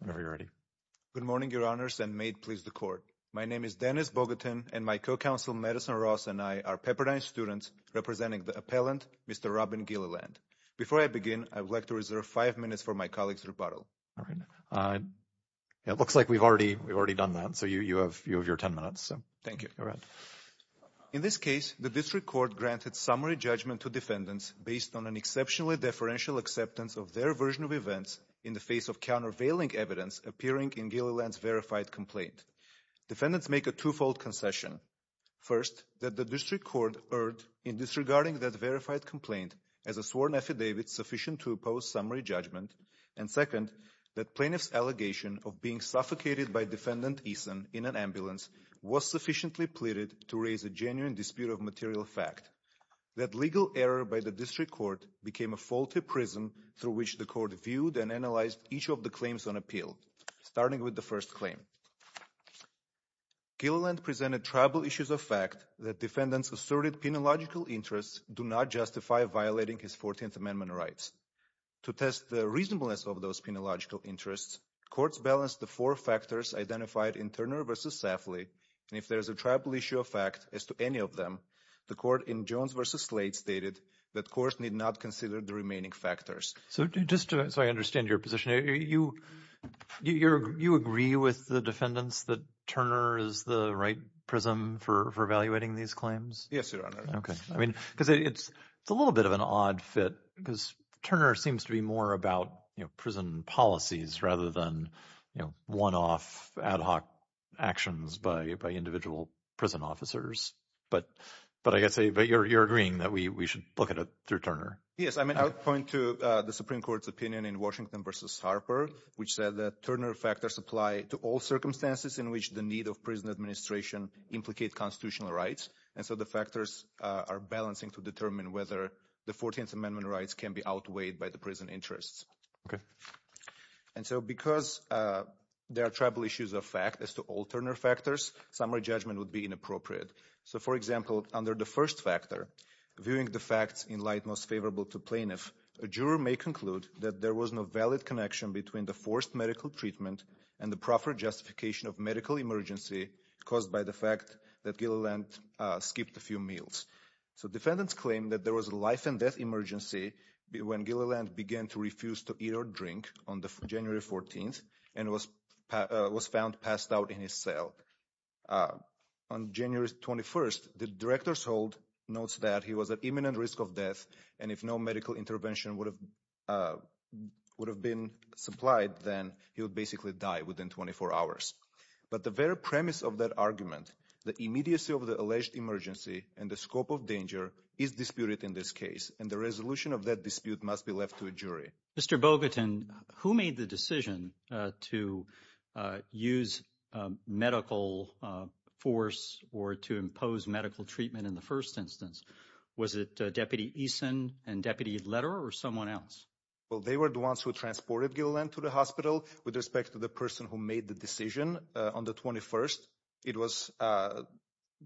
Whenever you're ready. Good morning, Your Honors, and may it please the Court. My name is Dennis Bogatin, and my co-counsel, Madison Ross, and I are Pepperdine students, representing the appellant, Mr. Robin Gilliland. Before I begin, I would like to reserve five minutes for my colleague's rebuttal. All right. It looks like we've already done that, so you have your ten minutes. Thank you. In this case, the District Court granted summary judgment to defendants based on an exceptionally deferential acceptance of their version of events in the face of countervailing evidence appearing in Gilliland's verified complaint. Defendants make a twofold concession. First, that the District Court erred in disregarding that verified complaint as a sworn affidavit sufficient to oppose summary judgment. And second, that plaintiff's allegation of being suffocated by Defendant Eason in an ambulance was sufficiently pleaded to raise a genuine dispute of material fact. That legal error by the District Court became a faulty prism through which the Court viewed and analyzed each of the claims on appeal, starting with the first claim. Gilliland presented tribal issues of fact that defendants' asserted penological interests do not justify violating his 14th Amendment rights. To test the reasonableness of those penological interests, courts balanced the four factors identified in Turner v. Safley. And if there is a tribal issue of fact as to any of them, the court in Jones v. Slate stated that courts need not consider the remaining factors. So just so I understand your position, you agree with the defendants that Turner is the right prism for evaluating these claims? Yes, Your Honor. OK. I mean, because it's a little bit of an odd fit because Turner seems to be more about prison policies rather than one-off ad hoc actions by individual prison officers. But I guess you're agreeing that we should look at it through Turner. Yes. I mean, I would point to the Supreme Court's opinion in Washington v. Harper, which said that Turner factors apply to all circumstances in which the need of prison administration implicate constitutional rights. And so the factors are balancing to determine whether the 14th Amendment rights can be outweighed by the prison interests. OK. And so because there are tribal issues of fact as to all Turner factors, summary judgment would be inappropriate. So for example, under the first factor, viewing the facts in light most favorable to plaintiff, a juror may conclude that there was no valid connection between the forced medical treatment and the proper justification of medical emergency caused by the fact that Gilliland skipped a few meals. So defendants claim that there was a life and death emergency when Gilliland began to refuse to eat or drink on January 14th and was found passed out in his cell. On January 21st, the director's hold notes that he was at imminent risk of death. And if no medical intervention would have would have been supplied, then he would basically die within 24 hours. But the very premise of that argument, the immediacy of the alleged emergency and the scope of danger is disputed in this case. And the resolution of that dispute must be left to a jury. Mr. Bogatin, who made the decision to use medical force or to impose medical treatment in the first instance? Was it Deputy Eason and deputy letter or someone else? Well, they were the ones who transported Gilliland to the hospital with respect to the person who made the decision on the 21st. It was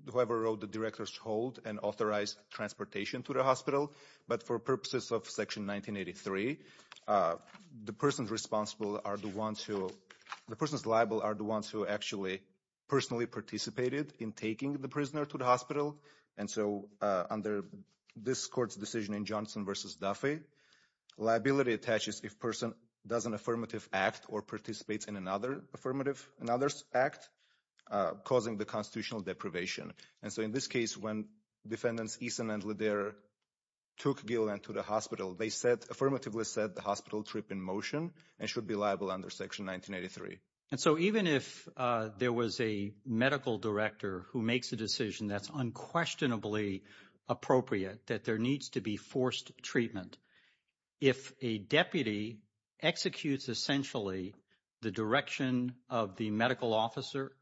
whoever wrote the director's hold and authorized transportation to the hospital. But for purposes of Section 1983, the person responsible are the ones who the person's liable are the ones who actually personally participated in taking the prisoner to the hospital. And so under this court's decision in Johnson versus Duffy, liability attaches if person does an affirmative act or participates in another affirmative and others act causing the constitutional deprivation. And so in this case, when defendants Eason and Leder took Gilliland to the hospital, they said affirmatively said the hospital trip in motion and should be liable under Section 1983. And so even if there was a medical director who makes a decision that's unquestionably appropriate, that there needs to be forced treatment. If a deputy executes essentially the direction of the medical officer,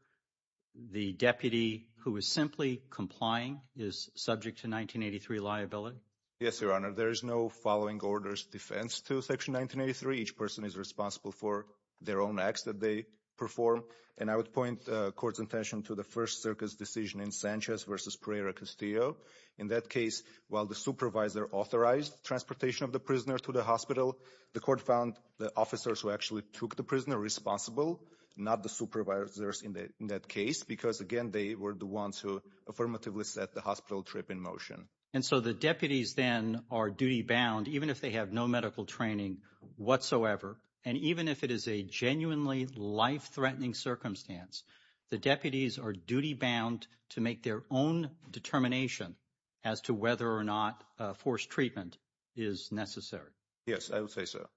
the deputy who is simply complying is subject to 1983 liability. Yes, Your Honor. There is no following orders defense to Section 1983. Each person is responsible for their own acts that they perform. And I would point the court's attention to the first circus decision in Sanchez versus Pereira Castillo. In that case, while the supervisor authorized transportation of the prisoner to the hospital, the court found the officers who actually took the prisoner responsible, not the supervisors in that case. Because, again, they were the ones who affirmatively said the hospital trip in motion. And so the deputies then are duty bound, even if they have no medical training whatsoever. And even if it is a genuinely life threatening circumstance, the deputies are duty bound to make their own determination as to whether or not forced treatment is necessary. Yes, I would say so.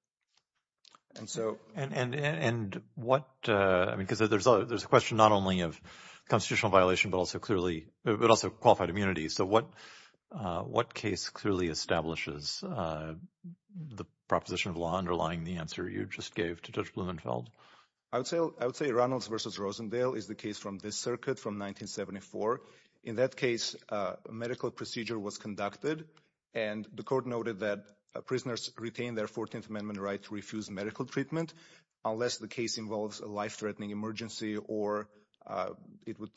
And so and what I mean, because there's a there's a question not only of constitutional violation, but also clearly but also qualified immunity. So what what case clearly establishes the proposition of law underlying the answer you just gave to Judge Blumenfeld? I would say I would say Ronald's versus Rosendale is the case from this circuit from 1974. In that case, a medical procedure was conducted and the court noted that prisoners retain their 14th Amendment right to refuse medical treatment unless the case involves a life threatening emergency or it would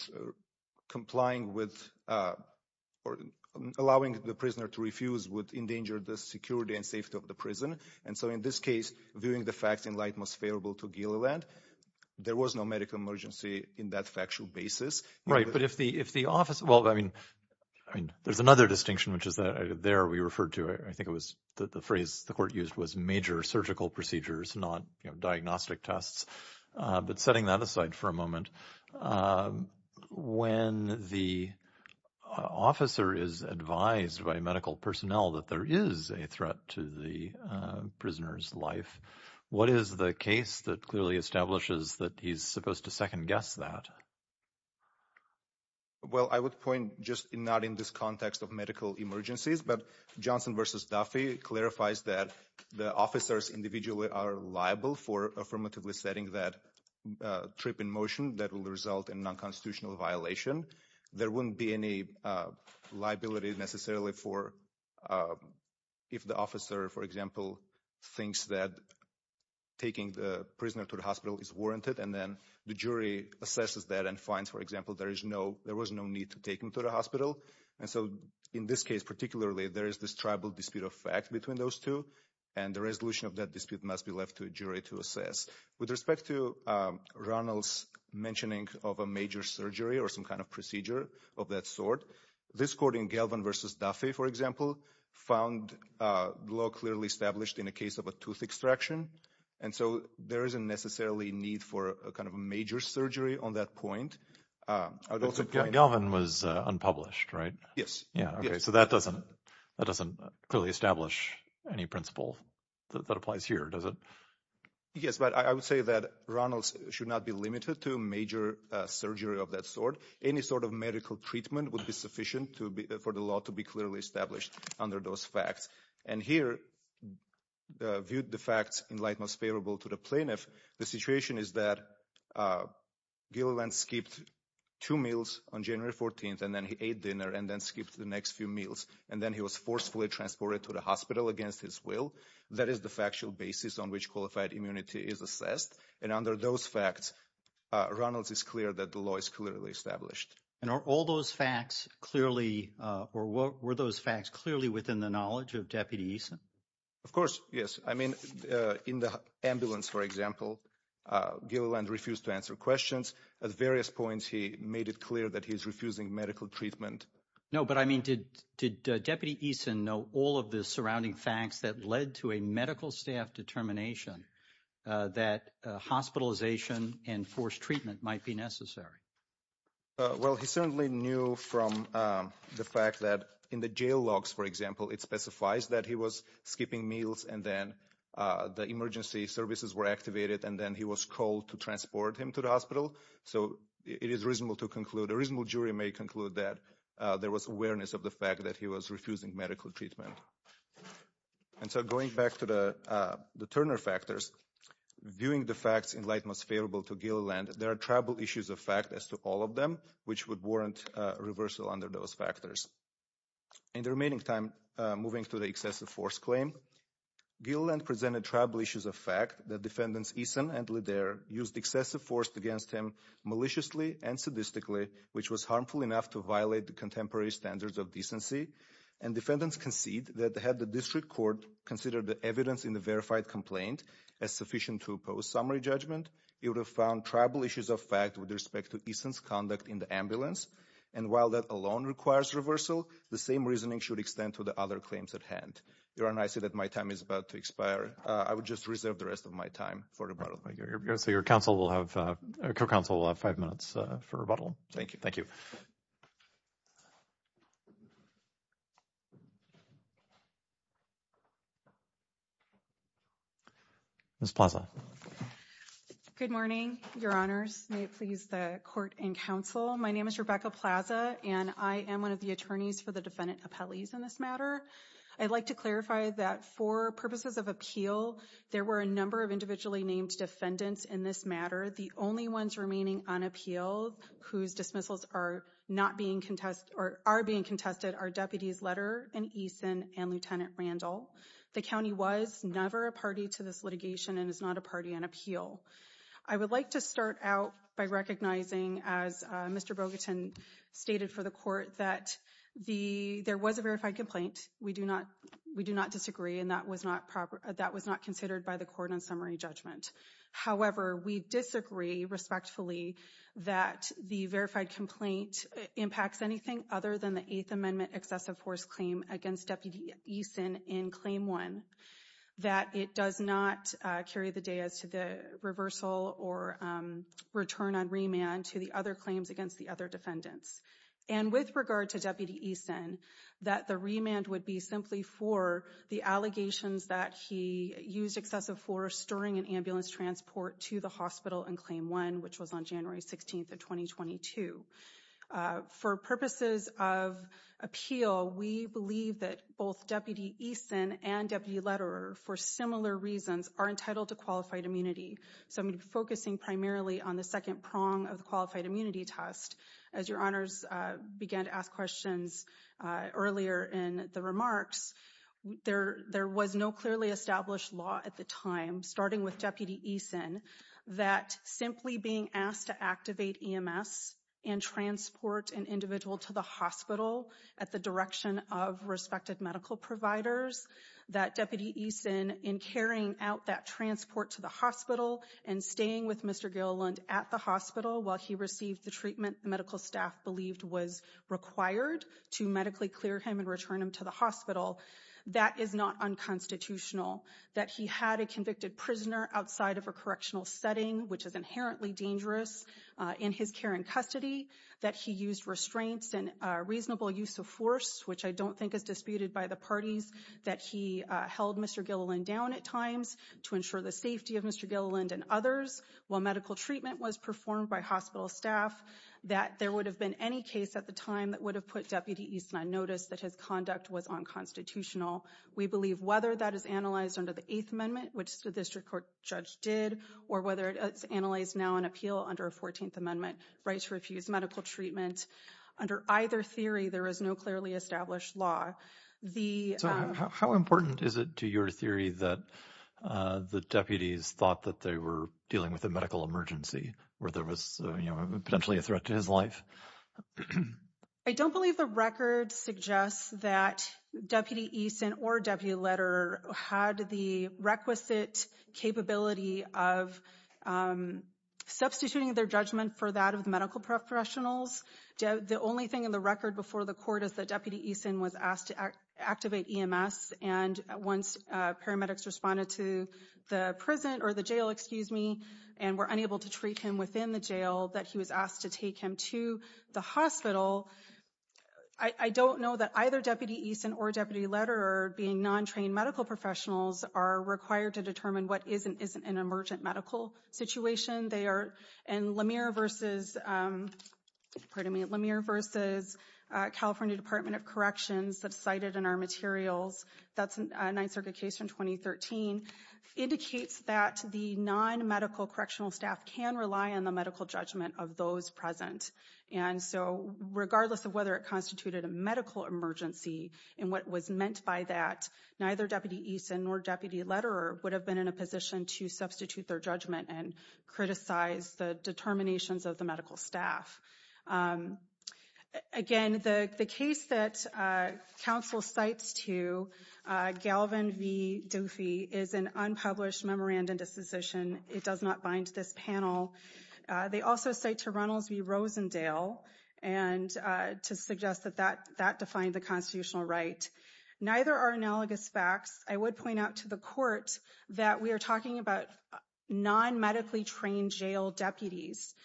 complying with or allowing the prisoner to refuse would endanger the security and safety of the prison. And so in this case, viewing the facts in light most favorable to Gilliland, there was no medical emergency in that factual basis. Right. But if the if the office. Well, I mean, I mean, there's another distinction, which is that there we referred to. I think it was the phrase the court used was major surgical procedures, not diagnostic tests. But setting that aside for a moment, when the officer is advised by medical personnel that there is a threat to the prisoner's life, what is the case that clearly establishes that he's supposed to second guess that? Well, I would point just not in this context of medical emergencies, but Johnson versus Duffy clarifies that the officers individually are liable for affirmatively setting that trip in motion that will result in nonconstitutional violation. There wouldn't be any liability necessarily for if the officer, for example, thinks that taking the prisoner to the hospital is warranted. And then the jury assesses that and finds, for example, there is no there was no need to take him to the hospital. And so in this case, particularly, there is this tribal dispute of fact between those two. And the resolution of that dispute must be left to a jury to assess with respect to Ronald's mentioning of a major surgery or some kind of procedure of that sort. This court in Galvin versus Duffy, for example, found law clearly established in a case of a tooth extraction. And so there isn't necessarily need for a kind of a major surgery on that point. Galvin was unpublished, right? Yes. So that doesn't that doesn't clearly establish any principle that applies here, does it? Yes, but I would say that Ronald's should not be limited to a major surgery of that sort. Any sort of medical treatment would be sufficient to be for the law to be clearly established under those facts. And here viewed the facts in light most favorable to the plaintiff. The situation is that Gilliland skipped two meals on January 14th and then he ate dinner and then skipped the next few meals. And then he was forcefully transported to the hospital against his will. That is the factual basis on which qualified immunity is assessed. And under those facts, Ronald's is clear that the law is clearly established. And are all those facts clearly or were those facts clearly within the knowledge of deputies? Of course. Yes. I mean, in the ambulance, for example, Gilliland refused to answer questions at various points. He made it clear that he is refusing medical treatment. No, but I mean, did did Deputy Eason know all of the surrounding facts that led to a medical staff determination that hospitalization and forced treatment might be necessary? Well, he certainly knew from the fact that in the jail logs, for example, it specifies that he was skipping meals. And then the emergency services were activated and then he was called to transport him to the hospital. So it is reasonable to conclude a reasonable jury may conclude that there was awareness of the fact that he was refusing medical treatment. And so going back to the Turner factors, viewing the facts in light most favorable to Gilliland, there are tribal issues of fact as to all of them, which would warrant reversal under those factors. In the remaining time, moving to the excessive force claim, Gilliland presented tribal issues of fact. The defendants, Eason and Ledare, used excessive force against him maliciously and sadistically, which was harmful enough to violate the contemporary standards of decency. And defendants concede that they had the district court consider the evidence in the verified complaint as sufficient to oppose summary judgment. It would have found tribal issues of fact with respect to Eason's conduct in the ambulance. And while that alone requires reversal, the same reasoning should extend to the other claims at hand. You're on. I see that my time is about to expire. I would just reserve the rest of my time for your counsel. We'll have a council of five minutes for rebuttal. Thank you. Thank you. Miss Plaza. Good morning, Your Honors. May it please the court and counsel. My name is Rebecca Plaza, and I am one of the attorneys for the defendant appellees in this matter. I'd like to clarify that for purposes of appeal, there were a number of individually named defendants in this matter. The only ones remaining unappealed whose dismissals are not being contested or are being contested are deputies Letter and Eason and Lieutenant Randall. The county was never a party to this litigation and is not a party on appeal. I would like to start out by recognizing, as Mr. Bogatin stated for the court, that the there was a verified complaint. We do not. We do not disagree. And that was not proper. That was not considered by the court on summary judgment. However, we disagree respectfully that the verified complaint impacts anything other than the Eighth Amendment excessive force claim against deputy Eason in claim one. That it does not carry the day as to the reversal or return on remand to the other claims against the other defendants. And with regard to deputy Eason, that the remand would be simply for the allegations that he used excessive force during an ambulance transport to the hospital in claim one, which was on January 16th of 2022. For purposes of appeal, we believe that both deputy Eason and deputy letter for similar reasons are entitled to qualified immunity. So I'm focusing primarily on the second prong of the qualified immunity test. As your honors began to ask questions earlier in the remarks there, there was no clearly established law at the time, starting with deputy Eason, that simply being asked to activate EMS and transport an individual to the hospital at the direction of respected medical providers. That deputy Eason in carrying out that transport to the hospital and staying with Mr. Gilliland at the hospital while he received the treatment medical staff believed was required to medically clear him and return him to the hospital. That is not unconstitutional that he had a convicted prisoner outside of a correctional setting, which is inherently dangerous in his care and custody that he used restraints and reasonable use of force, which I don't think is disputed by the parties that he held Mr. Gilliland down at times to ensure the safety of Mr. Gilliland and others while medical treatment was performed by hospital staff, that there would have been any case at the time that would have put deputy Eason on notice that his conduct was unconstitutional. We believe whether that is analyzed under the 8th amendment, which the district court judge did, or whether it's analyzed now and appeal under a 14th amendment right to refuse medical treatment under either theory, there is no clearly established law. The how important is it to your theory that the deputies thought that they were dealing with a medical emergency where there was potentially a threat to his life? I don't believe the record suggests that deputy Eason or deputy letter had the requisite capability of substituting their judgment for that of medical professionals. The only thing in the record before the court is that deputy Eason was asked to activate EMS and once paramedics responded to the prison or the jail, excuse me, and were unable to treat him within the jail that he was asked to take him to the hospital. I don't know that either deputy Eason or deputy letter being non-trained medical professionals are required to determine what is and isn't an emergent medical situation. They are in Lemire versus California Department of Corrections that's cited in our materials. That's a 9th Circuit case from 2013 indicates that the non-medical correctional staff can rely on the medical judgment of those present. And so regardless of whether it constituted a medical emergency and what was meant by that, neither deputy Eason nor deputy letter would have been in a position to substitute their judgment and criticize the determinations of the medical staff. Again, the case that counsel cites to Galvin v. Doofy is an unpublished memorandum disposition. It does not bind this panel. They also say to Runnels v. Rosendale and to suggest that that that defined the constitutional right. Neither are analogous facts. I would point out to the court that we are talking about non-medically trained jail deputies.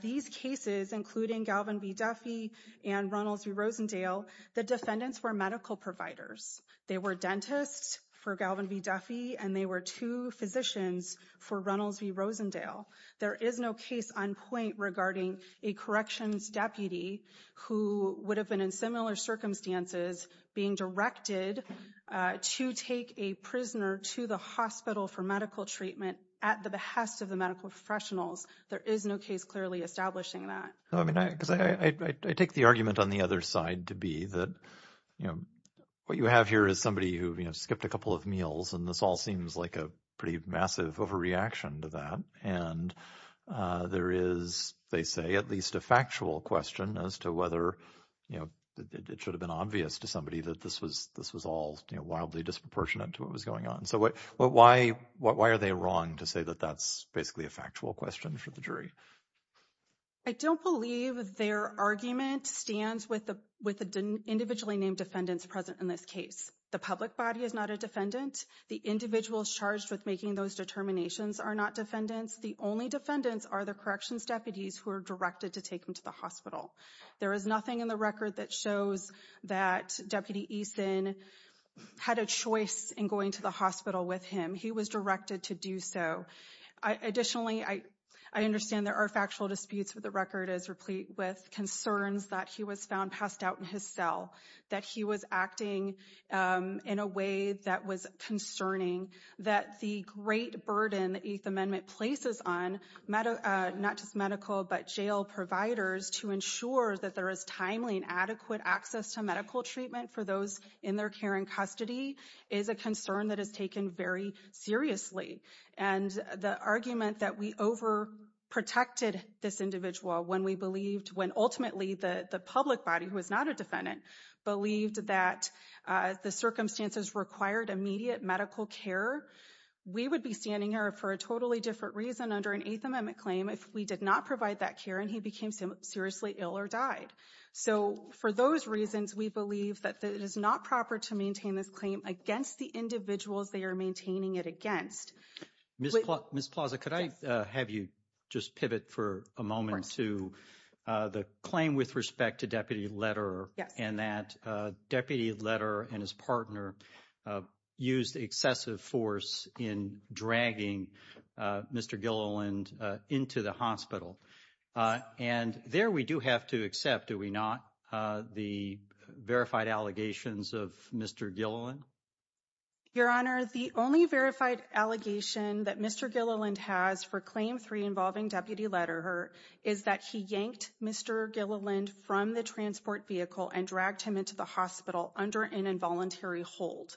These cases, including Galvin v. Doofy and Runnels v. Rosendale, the defendants were medical providers. They were dentists for Galvin v. Doofy and they were two physicians for Runnels v. Rosendale. There is no case on point regarding a corrections deputy who would have been in similar circumstances being directed to take a prisoner to the hospital for medical treatment at the behest of the medical professionals. There is no case clearly establishing that. I take the argument on the other side to be that what you have here is somebody who skipped a couple of meals and this all seems like a pretty massive overreaction to that. And there is, they say, at least a factual question as to whether it should have been obvious to somebody that this was all wildly disproportionate to what was going on. So why are they wrong to say that that's basically a factual question for the jury? I don't believe their argument stands with the individually named defendants present in this case. The public body is not a defendant. The individuals charged with making those determinations are not defendants. The only defendants are the corrections deputies who are directed to take them to the hospital. There is nothing in the record that shows that Deputy Eason had a choice in going to the hospital with him. He was directed to do so. Additionally, I understand there are factual disputes with the record as replete with concerns that he was found passed out in his cell, that he was acting in a way that was concerning, that the great burden the Eighth Amendment places on not just medical but jail providers to ensure that there is timely and adequate access to medical treatment for those in their care and custody is a concern that is taken very seriously. And the argument that we overprotected this individual when we believed, when ultimately the public body, who is not a defendant, believed that the circumstances required immediate medical care, we would be standing here for a totally different reason under an Eighth Amendment claim if we did not provide that care and he became seriously ill or died. So for those reasons, we believe that it is not proper to maintain this claim against the individuals they are maintaining it against. Ms. Plaza, could I have you just pivot for a moment to the claim with respect to Deputy Lederer and that Deputy Lederer and his partner used excessive force in dragging Mr. Gilleland into the hospital. And there we do have to accept, do we not, the verified allegations of Mr. Gilleland? Your Honor, the only verified allegation that Mr. Gilleland has for Claim 3 involving Deputy Lederer is that he yanked Mr. Gilleland from the transport vehicle and dragged him into the hospital under an involuntary hold.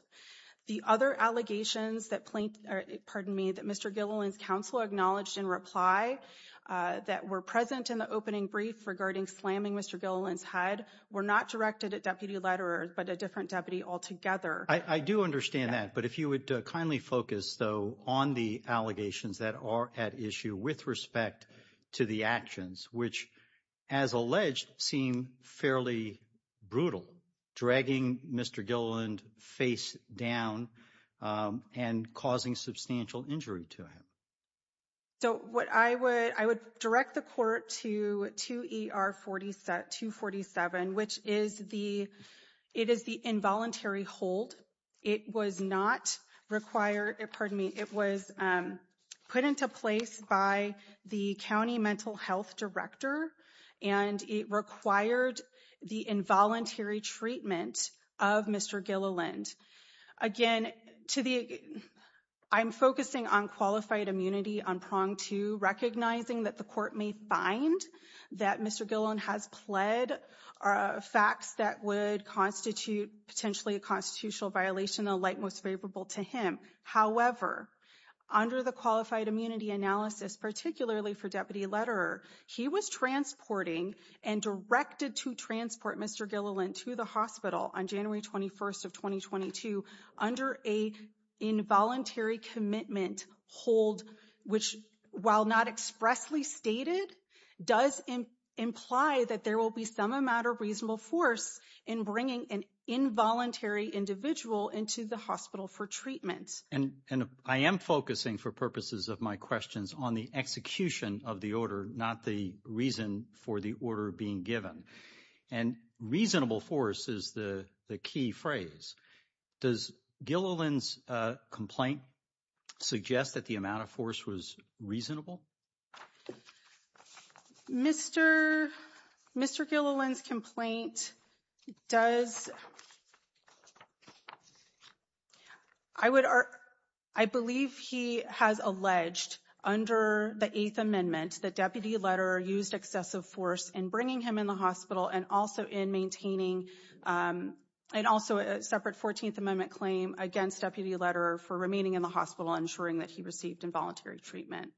The other allegations that Mr. Gilleland's counsel acknowledged in reply that were present in the opening brief regarding slamming Mr. Gilleland's head were not directed at Deputy Lederer, but a different deputy altogether. I do understand that, but if you would kindly focus, though, on the allegations that are at issue with respect to the actions, which, as alleged, seem fairly brutal, dragging Mr. Gilleland face down and causing substantial injury to him. So what I would, I would direct the court to 2 ER 247, which is the, it is the involuntary hold. It was not required. Pardon me. It was put into place by the county mental health director. And it required the involuntary treatment of Mr. Gilleland. Again, to the I'm focusing on qualified immunity on prong to recognizing that the court may find that Mr. Gill and has pled facts that would constitute potentially a constitutional violation, a light, most favorable to him. However, under the qualified immunity analysis, particularly for Deputy Lederer, he was transporting and directed to transport Mr. Gilleland to the hospital on January 21st of 2022 under a involuntary commitment hold, which, while not expressly stated, does imply that there will be some amount of reasonable force in bringing an involuntary individual into the hospital for treatment. And I am focusing for purposes of my questions on the execution of the order, not the reason for the order being given. And reasonable force is the key phrase. Does Gilleland's complaint suggest that the amount of force was reasonable? Mr. Mr. Gilleland's complaint does. I would I believe he has alleged under the eighth amendment, the deputy letter used excessive force in bringing him in the hospital and also in maintaining. And also a separate 14th Amendment claim against deputy letter for remaining in the hospital, ensuring that he received involuntary treatment.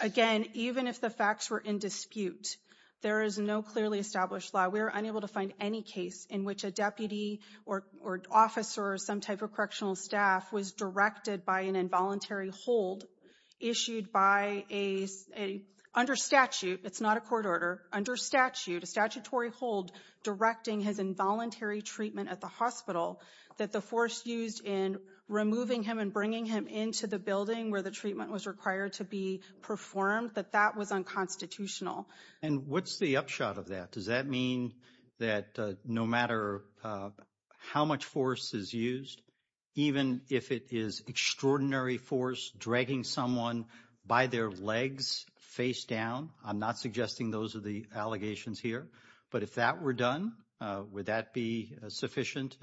Again, even if the facts were in dispute, there is no clearly established law. We are unable to find any case in which a deputy or or officer or some type of correctional staff was directed by an involuntary hold issued by a under statute. It's not a court order under statute, a statutory hold directing his involuntary treatment at the hospital that the force used in removing him and bringing him into the building where the treatment was required. To be performed, that that was unconstitutional. And what's the upshot of that? Does that mean that no matter how much force is used, even if it is extraordinary force dragging someone by their legs face down? I'm not suggesting those are the allegations here, but if that were done, would that be sufficient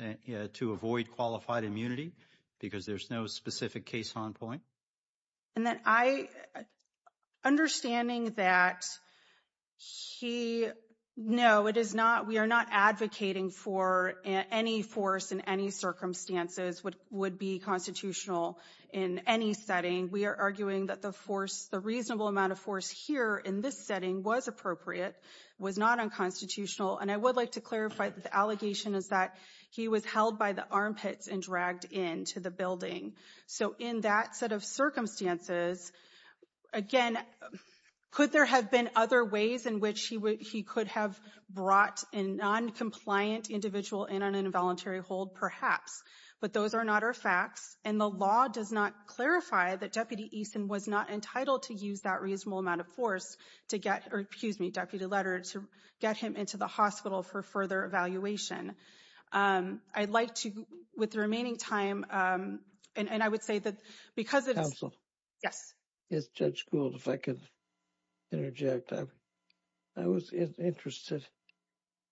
to avoid qualified immunity? Because there's no specific case on point. And then I understanding that he know it is not we are not advocating for any force in any circumstances would would be constitutional in any setting. We are arguing that the force, the reasonable amount of force here in this setting was appropriate, was not unconstitutional. And I would like to clarify that the allegation is that he was held by the armpits and dragged into the building. So in that set of circumstances, again, could there have been other ways in which he would he could have brought in noncompliant individual in an involuntary hold, perhaps? But those are not our facts. And the law does not clarify that Deputy Easton was not entitled to use that reasonable amount of force to get or, excuse me, deputy letter to get him into the hospital for further evaluation. I'd like to with the remaining time. And I would say that because it is. Yes, it's just cool if I could interject. I was interested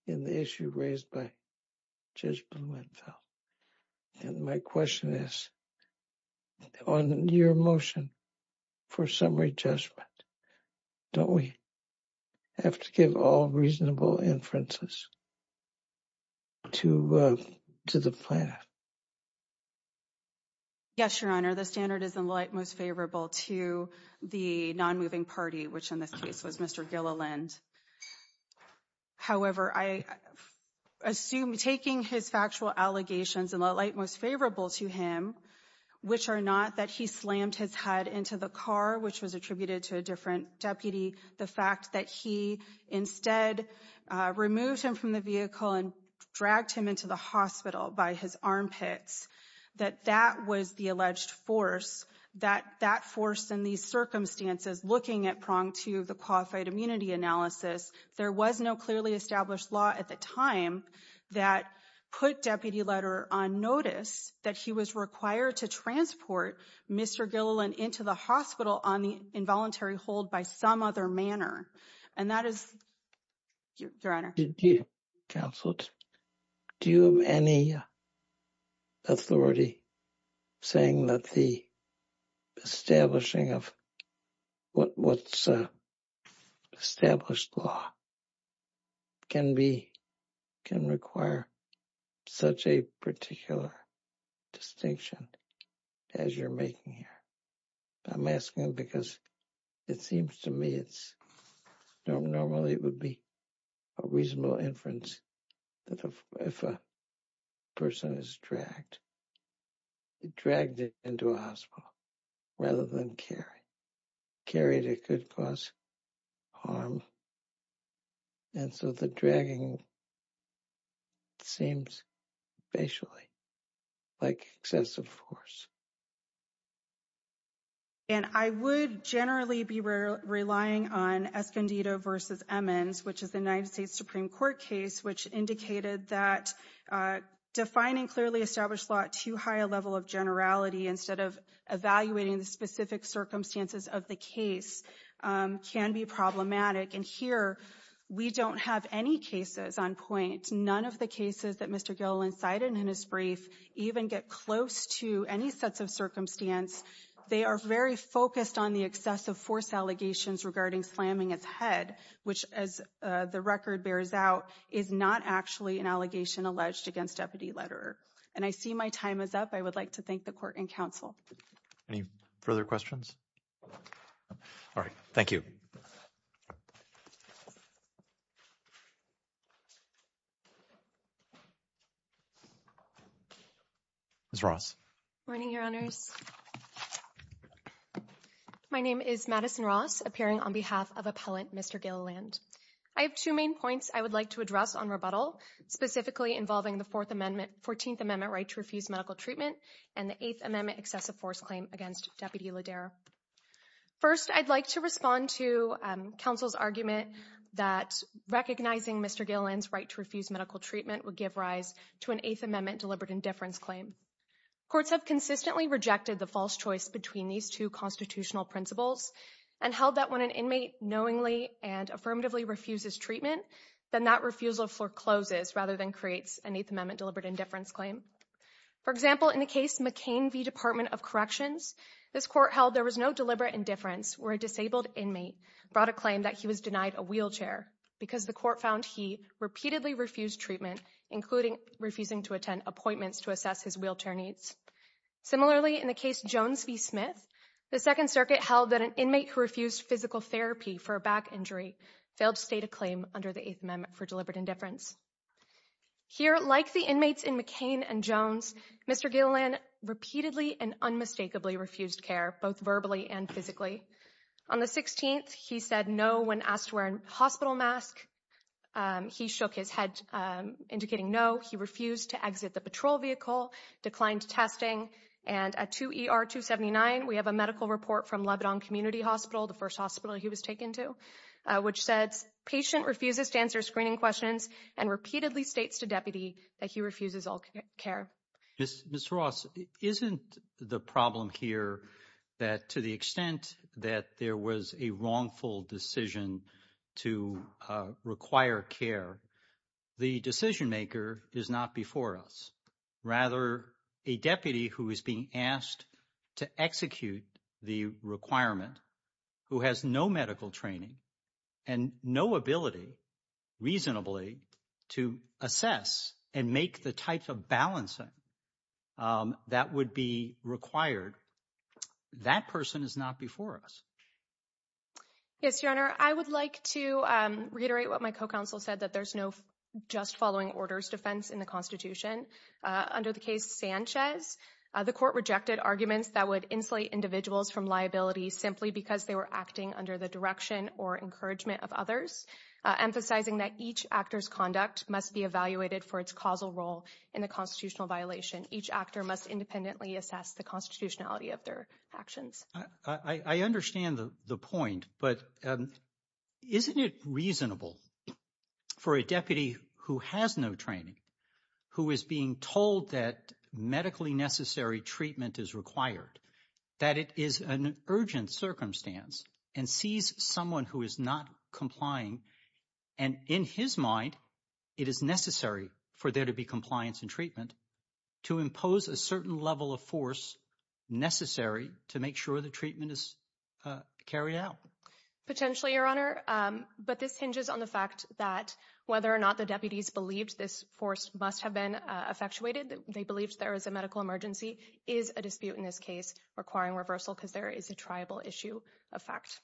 in the issue raised by just my question is on your motion for summary judgment. Don't we have to give all reasonable inferences. To to the plan. Yes, your honor, the standard is in light, most favorable to the non moving party, which in this case was Mr Gilliland. However, I assume taking his factual allegations in the light, most favorable to him, which are not that he slammed his head into the car, which was attributed to a different deputy. The fact that he instead removed him from the vehicle and dragged him into the hospital by his armpits, that that was the alleged force that that force in these circumstances, looking at prong to the qualified immunity analysis. There was no clearly established law at the time that put deputy letter on notice that he was required to transport Mr Gilliland into the hospital on the involuntary hold by some other manner. And that is your honor counsel. Do you have any authority, saying that the establishing of what what's established law can be can require such a particular distinction. As you're making here. I'm asking because it seems to me it's normally it would be a reasonable inference. that if a person is dragged, dragged into a hospital, rather than carry, carried it could cause harm. And so the dragging seems basically like excessive force. And I would generally be relying on Escondido versus Emmons, which is the United States Supreme Court case, which indicated that defining clearly established a lot too high a level of generality instead of evaluating the specific circumstances of the case can be problematic. And here we don't have any cases on point. None of the cases that Mr Gilliland cited in his brief even get close to any sets of circumstance. They are very focused on the excessive force allegations regarding slamming his head, which, as the record bears out, is not actually an allegation alleged against deputy letter. And I see my time is up. I would like to thank the court and counsel. Any further questions. All right. Thank you. Ross running your honors. My name is Madison Ross appearing on behalf of appellant Mr Gilliland. I have two main points I would like to address on rebuttal, specifically involving the Fourth Amendment 14th Amendment right to refuse medical treatment, and the eighth amendment excessive force claim against deputy leader. First, I'd like to respond to counsel's argument that recognizing Mr Gilliland's right to refuse medical treatment would give rise to an eighth amendment deliberate indifference claim. Courts have consistently rejected the false choice between these two constitutional principles and held that when an inmate knowingly and affirmatively refuses treatment, then that refusal forecloses rather than creates an eighth amendment deliberate indifference claim. For example, in the case McCain v. Department of Corrections, this court held there was no deliberate indifference where a disabled inmate brought a claim that he was denied a wheelchair because the court found he repeatedly refused treatment, including refusing to attend appointments to assess his wheelchair needs. Similarly, in the case Jones v. Smith, the Second Circuit held that an inmate who refused physical therapy for a back injury failed to state a claim under the eighth amendment for deliberate indifference. Here, like the inmates in McCain and Jones, Mr Gilliland repeatedly and unmistakably refused care, both verbally and physically. On the 16th, he said no when asked to wear a hospital mask. He shook his head indicating no. He refused to exit the patrol vehicle, declined testing. And at 2 ER 279, we have a medical report from Lebanon Community Hospital, the first hospital he was taken to, which says patient refuses to answer screening questions and repeatedly states to deputy that he refuses all care. Mr. Ross, isn't the problem here that to the extent that there was a wrongful decision to require care, the decision maker is not before us. Rather, a deputy who is being asked to execute the requirement who has no medical training and no ability reasonably to assess and make the type of balancing that would be required. That person is not before us. Yes, your honor, I would like to reiterate what my co-counsel said, that there's no just following orders defense in the Constitution under the case Sanchez. The court rejected arguments that would insulate individuals from liability simply because they were acting under the direction or encouragement of others, emphasizing that each actor's conduct must be evaluated for its causal role in the constitutional violation. Each actor must independently assess the constitutionality of their actions. I understand the point, but isn't it reasonable for a deputy who has no training, who is being told that medically necessary treatment is required, that it is an urgent circumstance and sees someone who is not complying. And in his mind, it is necessary for there to be compliance and treatment to impose a certain level of force necessary to make sure the treatment is carried out potentially, your honor. But this hinges on the fact that whether or not the deputies believed this force must have been effectuated, they believed there is a medical emergency is a dispute in this case requiring reversal because there is a tribal issue of fact.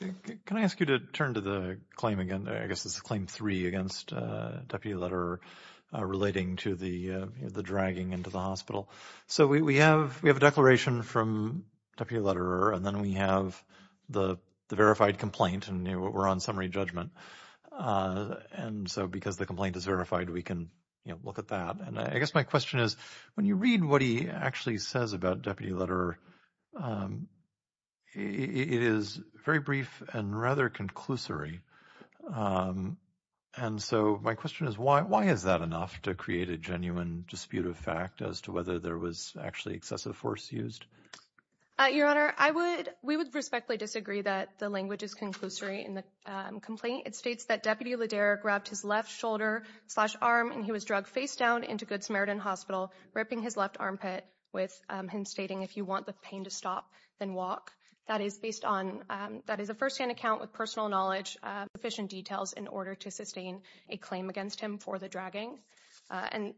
Can I ask you to turn to the claim again? I guess this is claim three against deputy letter relating to the dragging into the hospital. So we have we have a declaration from deputy letter and then we have the verified complaint and we're on summary judgment. And so because the complaint is verified, we can look at that. And I guess my question is, when you read what he actually says about deputy letter, it is very brief and rather conclusory. And so my question is, why? Why is that enough to create a genuine dispute of fact as to whether there was actually excessive force used? Your honor, I would we would respectfully disagree that the language is conclusory in the complaint. It states that deputy ledera grabbed his left shoulder slash arm and he was drugged face down into Good Samaritan Hospital, ripping his left armpit with him, stating, if you want the pain to stop, then walk. That is based on that is a first hand account with personal knowledge, efficient details in order to sustain a claim against him for the dragging. And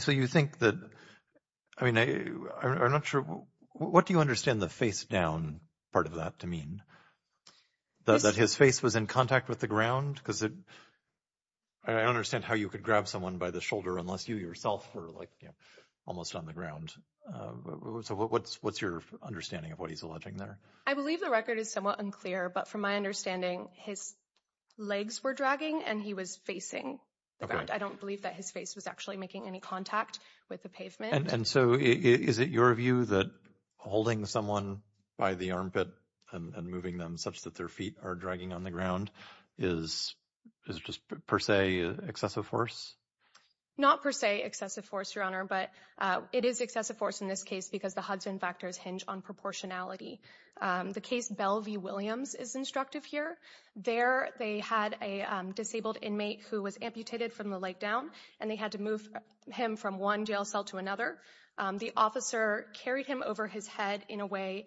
so you think that I mean, I'm not sure. What do you understand the face down part of that to mean that his face was in contact with the ground? Because I understand how you could grab someone by the shoulder unless you yourself were like almost on the ground. So what's what's your understanding of what he's alleging there? I believe the record is somewhat unclear, but from my understanding, his legs were dragging and he was facing the ground. I don't believe that his face was actually making any contact with the pavement. And so is it your view that holding someone by the armpit and moving them such that their feet are dragging on the ground is is just per se excessive force? Not per se excessive force, your honor, but it is excessive force in this case because the Hudson factors hinge on proportionality. The case, Belle v. Williams is instructive here. There they had a disabled inmate who was amputated from the leg down and they had to move him from one jail cell to another. The officer carried him over his head in a way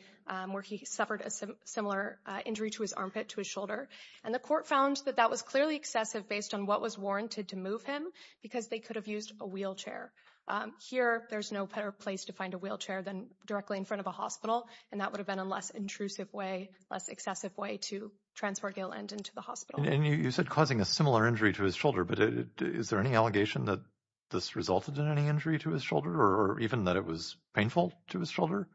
where he suffered a similar injury to his armpit, to his shoulder. And the court found that that was clearly excessive based on what was warranted to move him because they could have used a wheelchair. Here, there's no better place to find a wheelchair than directly in front of a hospital. And that would have been a less intrusive way, less excessive way to transport Gillend into the hospital. And you said causing a similar injury to his shoulder. But is there any allegation that this resulted in any injury to his shoulder or even that it was painful to his shoulder?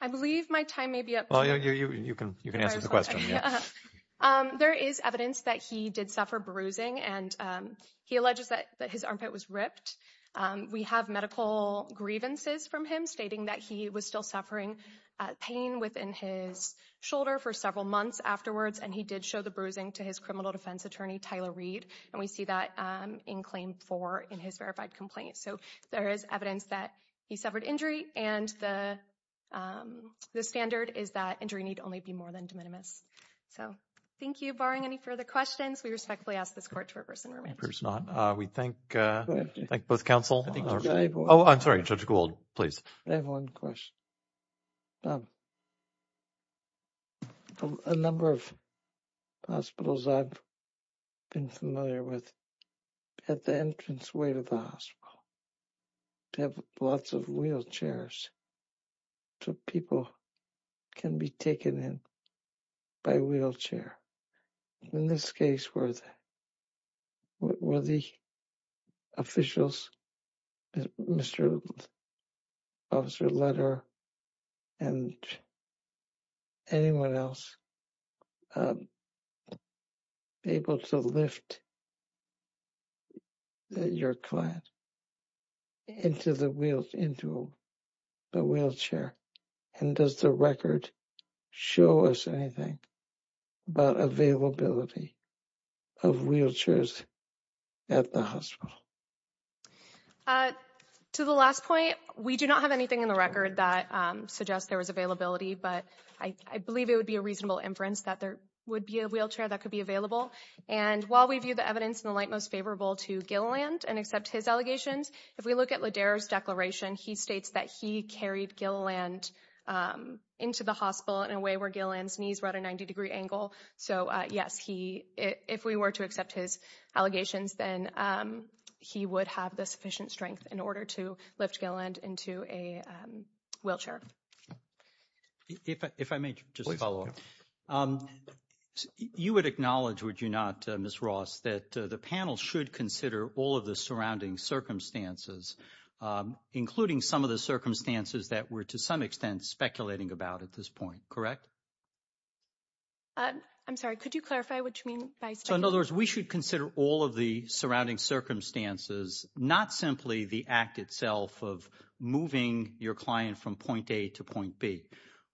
I believe my time may be up. Well, you can you can answer the question. There is evidence that he did suffer bruising and he alleges that his armpit was ripped. We have medical grievances from him stating that he was still suffering pain within his shoulder for several months afterwards. And he did show the bruising to his criminal defense attorney, Tyler Reed. And we see that in claim four in his verified complaint. So there is evidence that he suffered injury. And the standard is that injury need only be more than de minimis. So thank you. Barring any further questions, we respectfully ask this court to reverse and remain seated. We thank both counsel. Oh, I'm sorry, Judge Gould, please. I have one question. A number of hospitals I've been familiar with at the entranceway to the hospital have lots of wheelchairs. So people can be taken in by wheelchair. In this case, were the officials, Mr. Officer Letter and anyone else able to lift your client into the wheelchair? And does the record show us anything about availability of wheelchairs at the hospital? To the last point, we do not have anything in the record that suggests there was availability. But I believe it would be a reasonable inference that there would be a wheelchair that could be available. And while we view the evidence in the light most favorable to Gilliland and accept his allegations, if we look at Lederer's declaration, he states that he carried Gilliland into the hospital in a way where Gilliland's knees were at a 90 degree angle. So, yes, he if we were to accept his allegations, then he would have the sufficient strength in order to lift Gilliland into a wheelchair. If I may just follow up. You would acknowledge, would you not, Miss Ross, that the panel should consider all of the surrounding circumstances, including some of the circumstances that we're, to some extent, speculating about at this point, correct? I'm sorry, could you clarify what you mean? So, in other words, we should consider all of the surrounding circumstances, not simply the act itself of moving your client from point A to point B.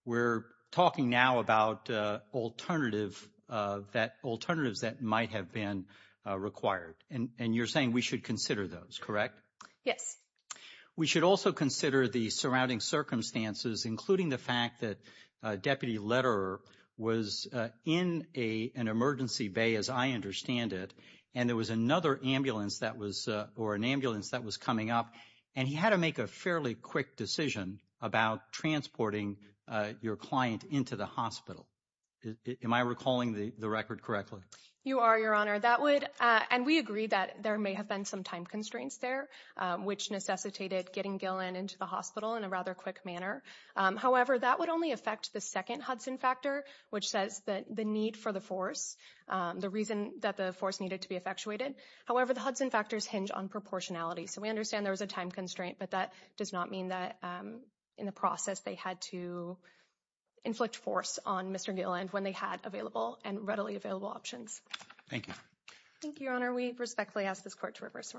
We're talking now about alternatives that might have been required. And you're saying we should consider those, correct? Yes. We should also consider the surrounding circumstances, including the fact that Deputy Lederer was in an emergency bay, as I understand it. And there was another ambulance that was or an ambulance that was coming up. And he had to make a fairly quick decision about transporting your client into the hospital. Am I recalling the record correctly? You are, Your Honor. And we agree that there may have been some time constraints there, which necessitated getting Gilland into the hospital in a rather quick manner. However, that would only affect the second Hudson factor, which says that the need for the force, the reason that the force needed to be effectuated. However, the Hudson factors hinge on proportionality. So we understand there was a time constraint, but that does not mean that in the process they had to inflict force on Mr. Gilland when they had available and readily available options. Thank you. Thank you, Your Honor. We respectfully ask this court to reverse.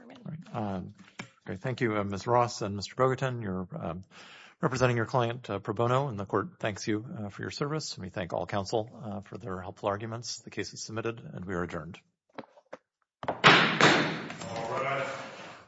Thank you, Ms. Ross and Mr. Bogatin. You're representing your client, Pro Bono, and the court thanks you for your service. We thank all counsel for their helpful arguments. The case is submitted and we are adjourned.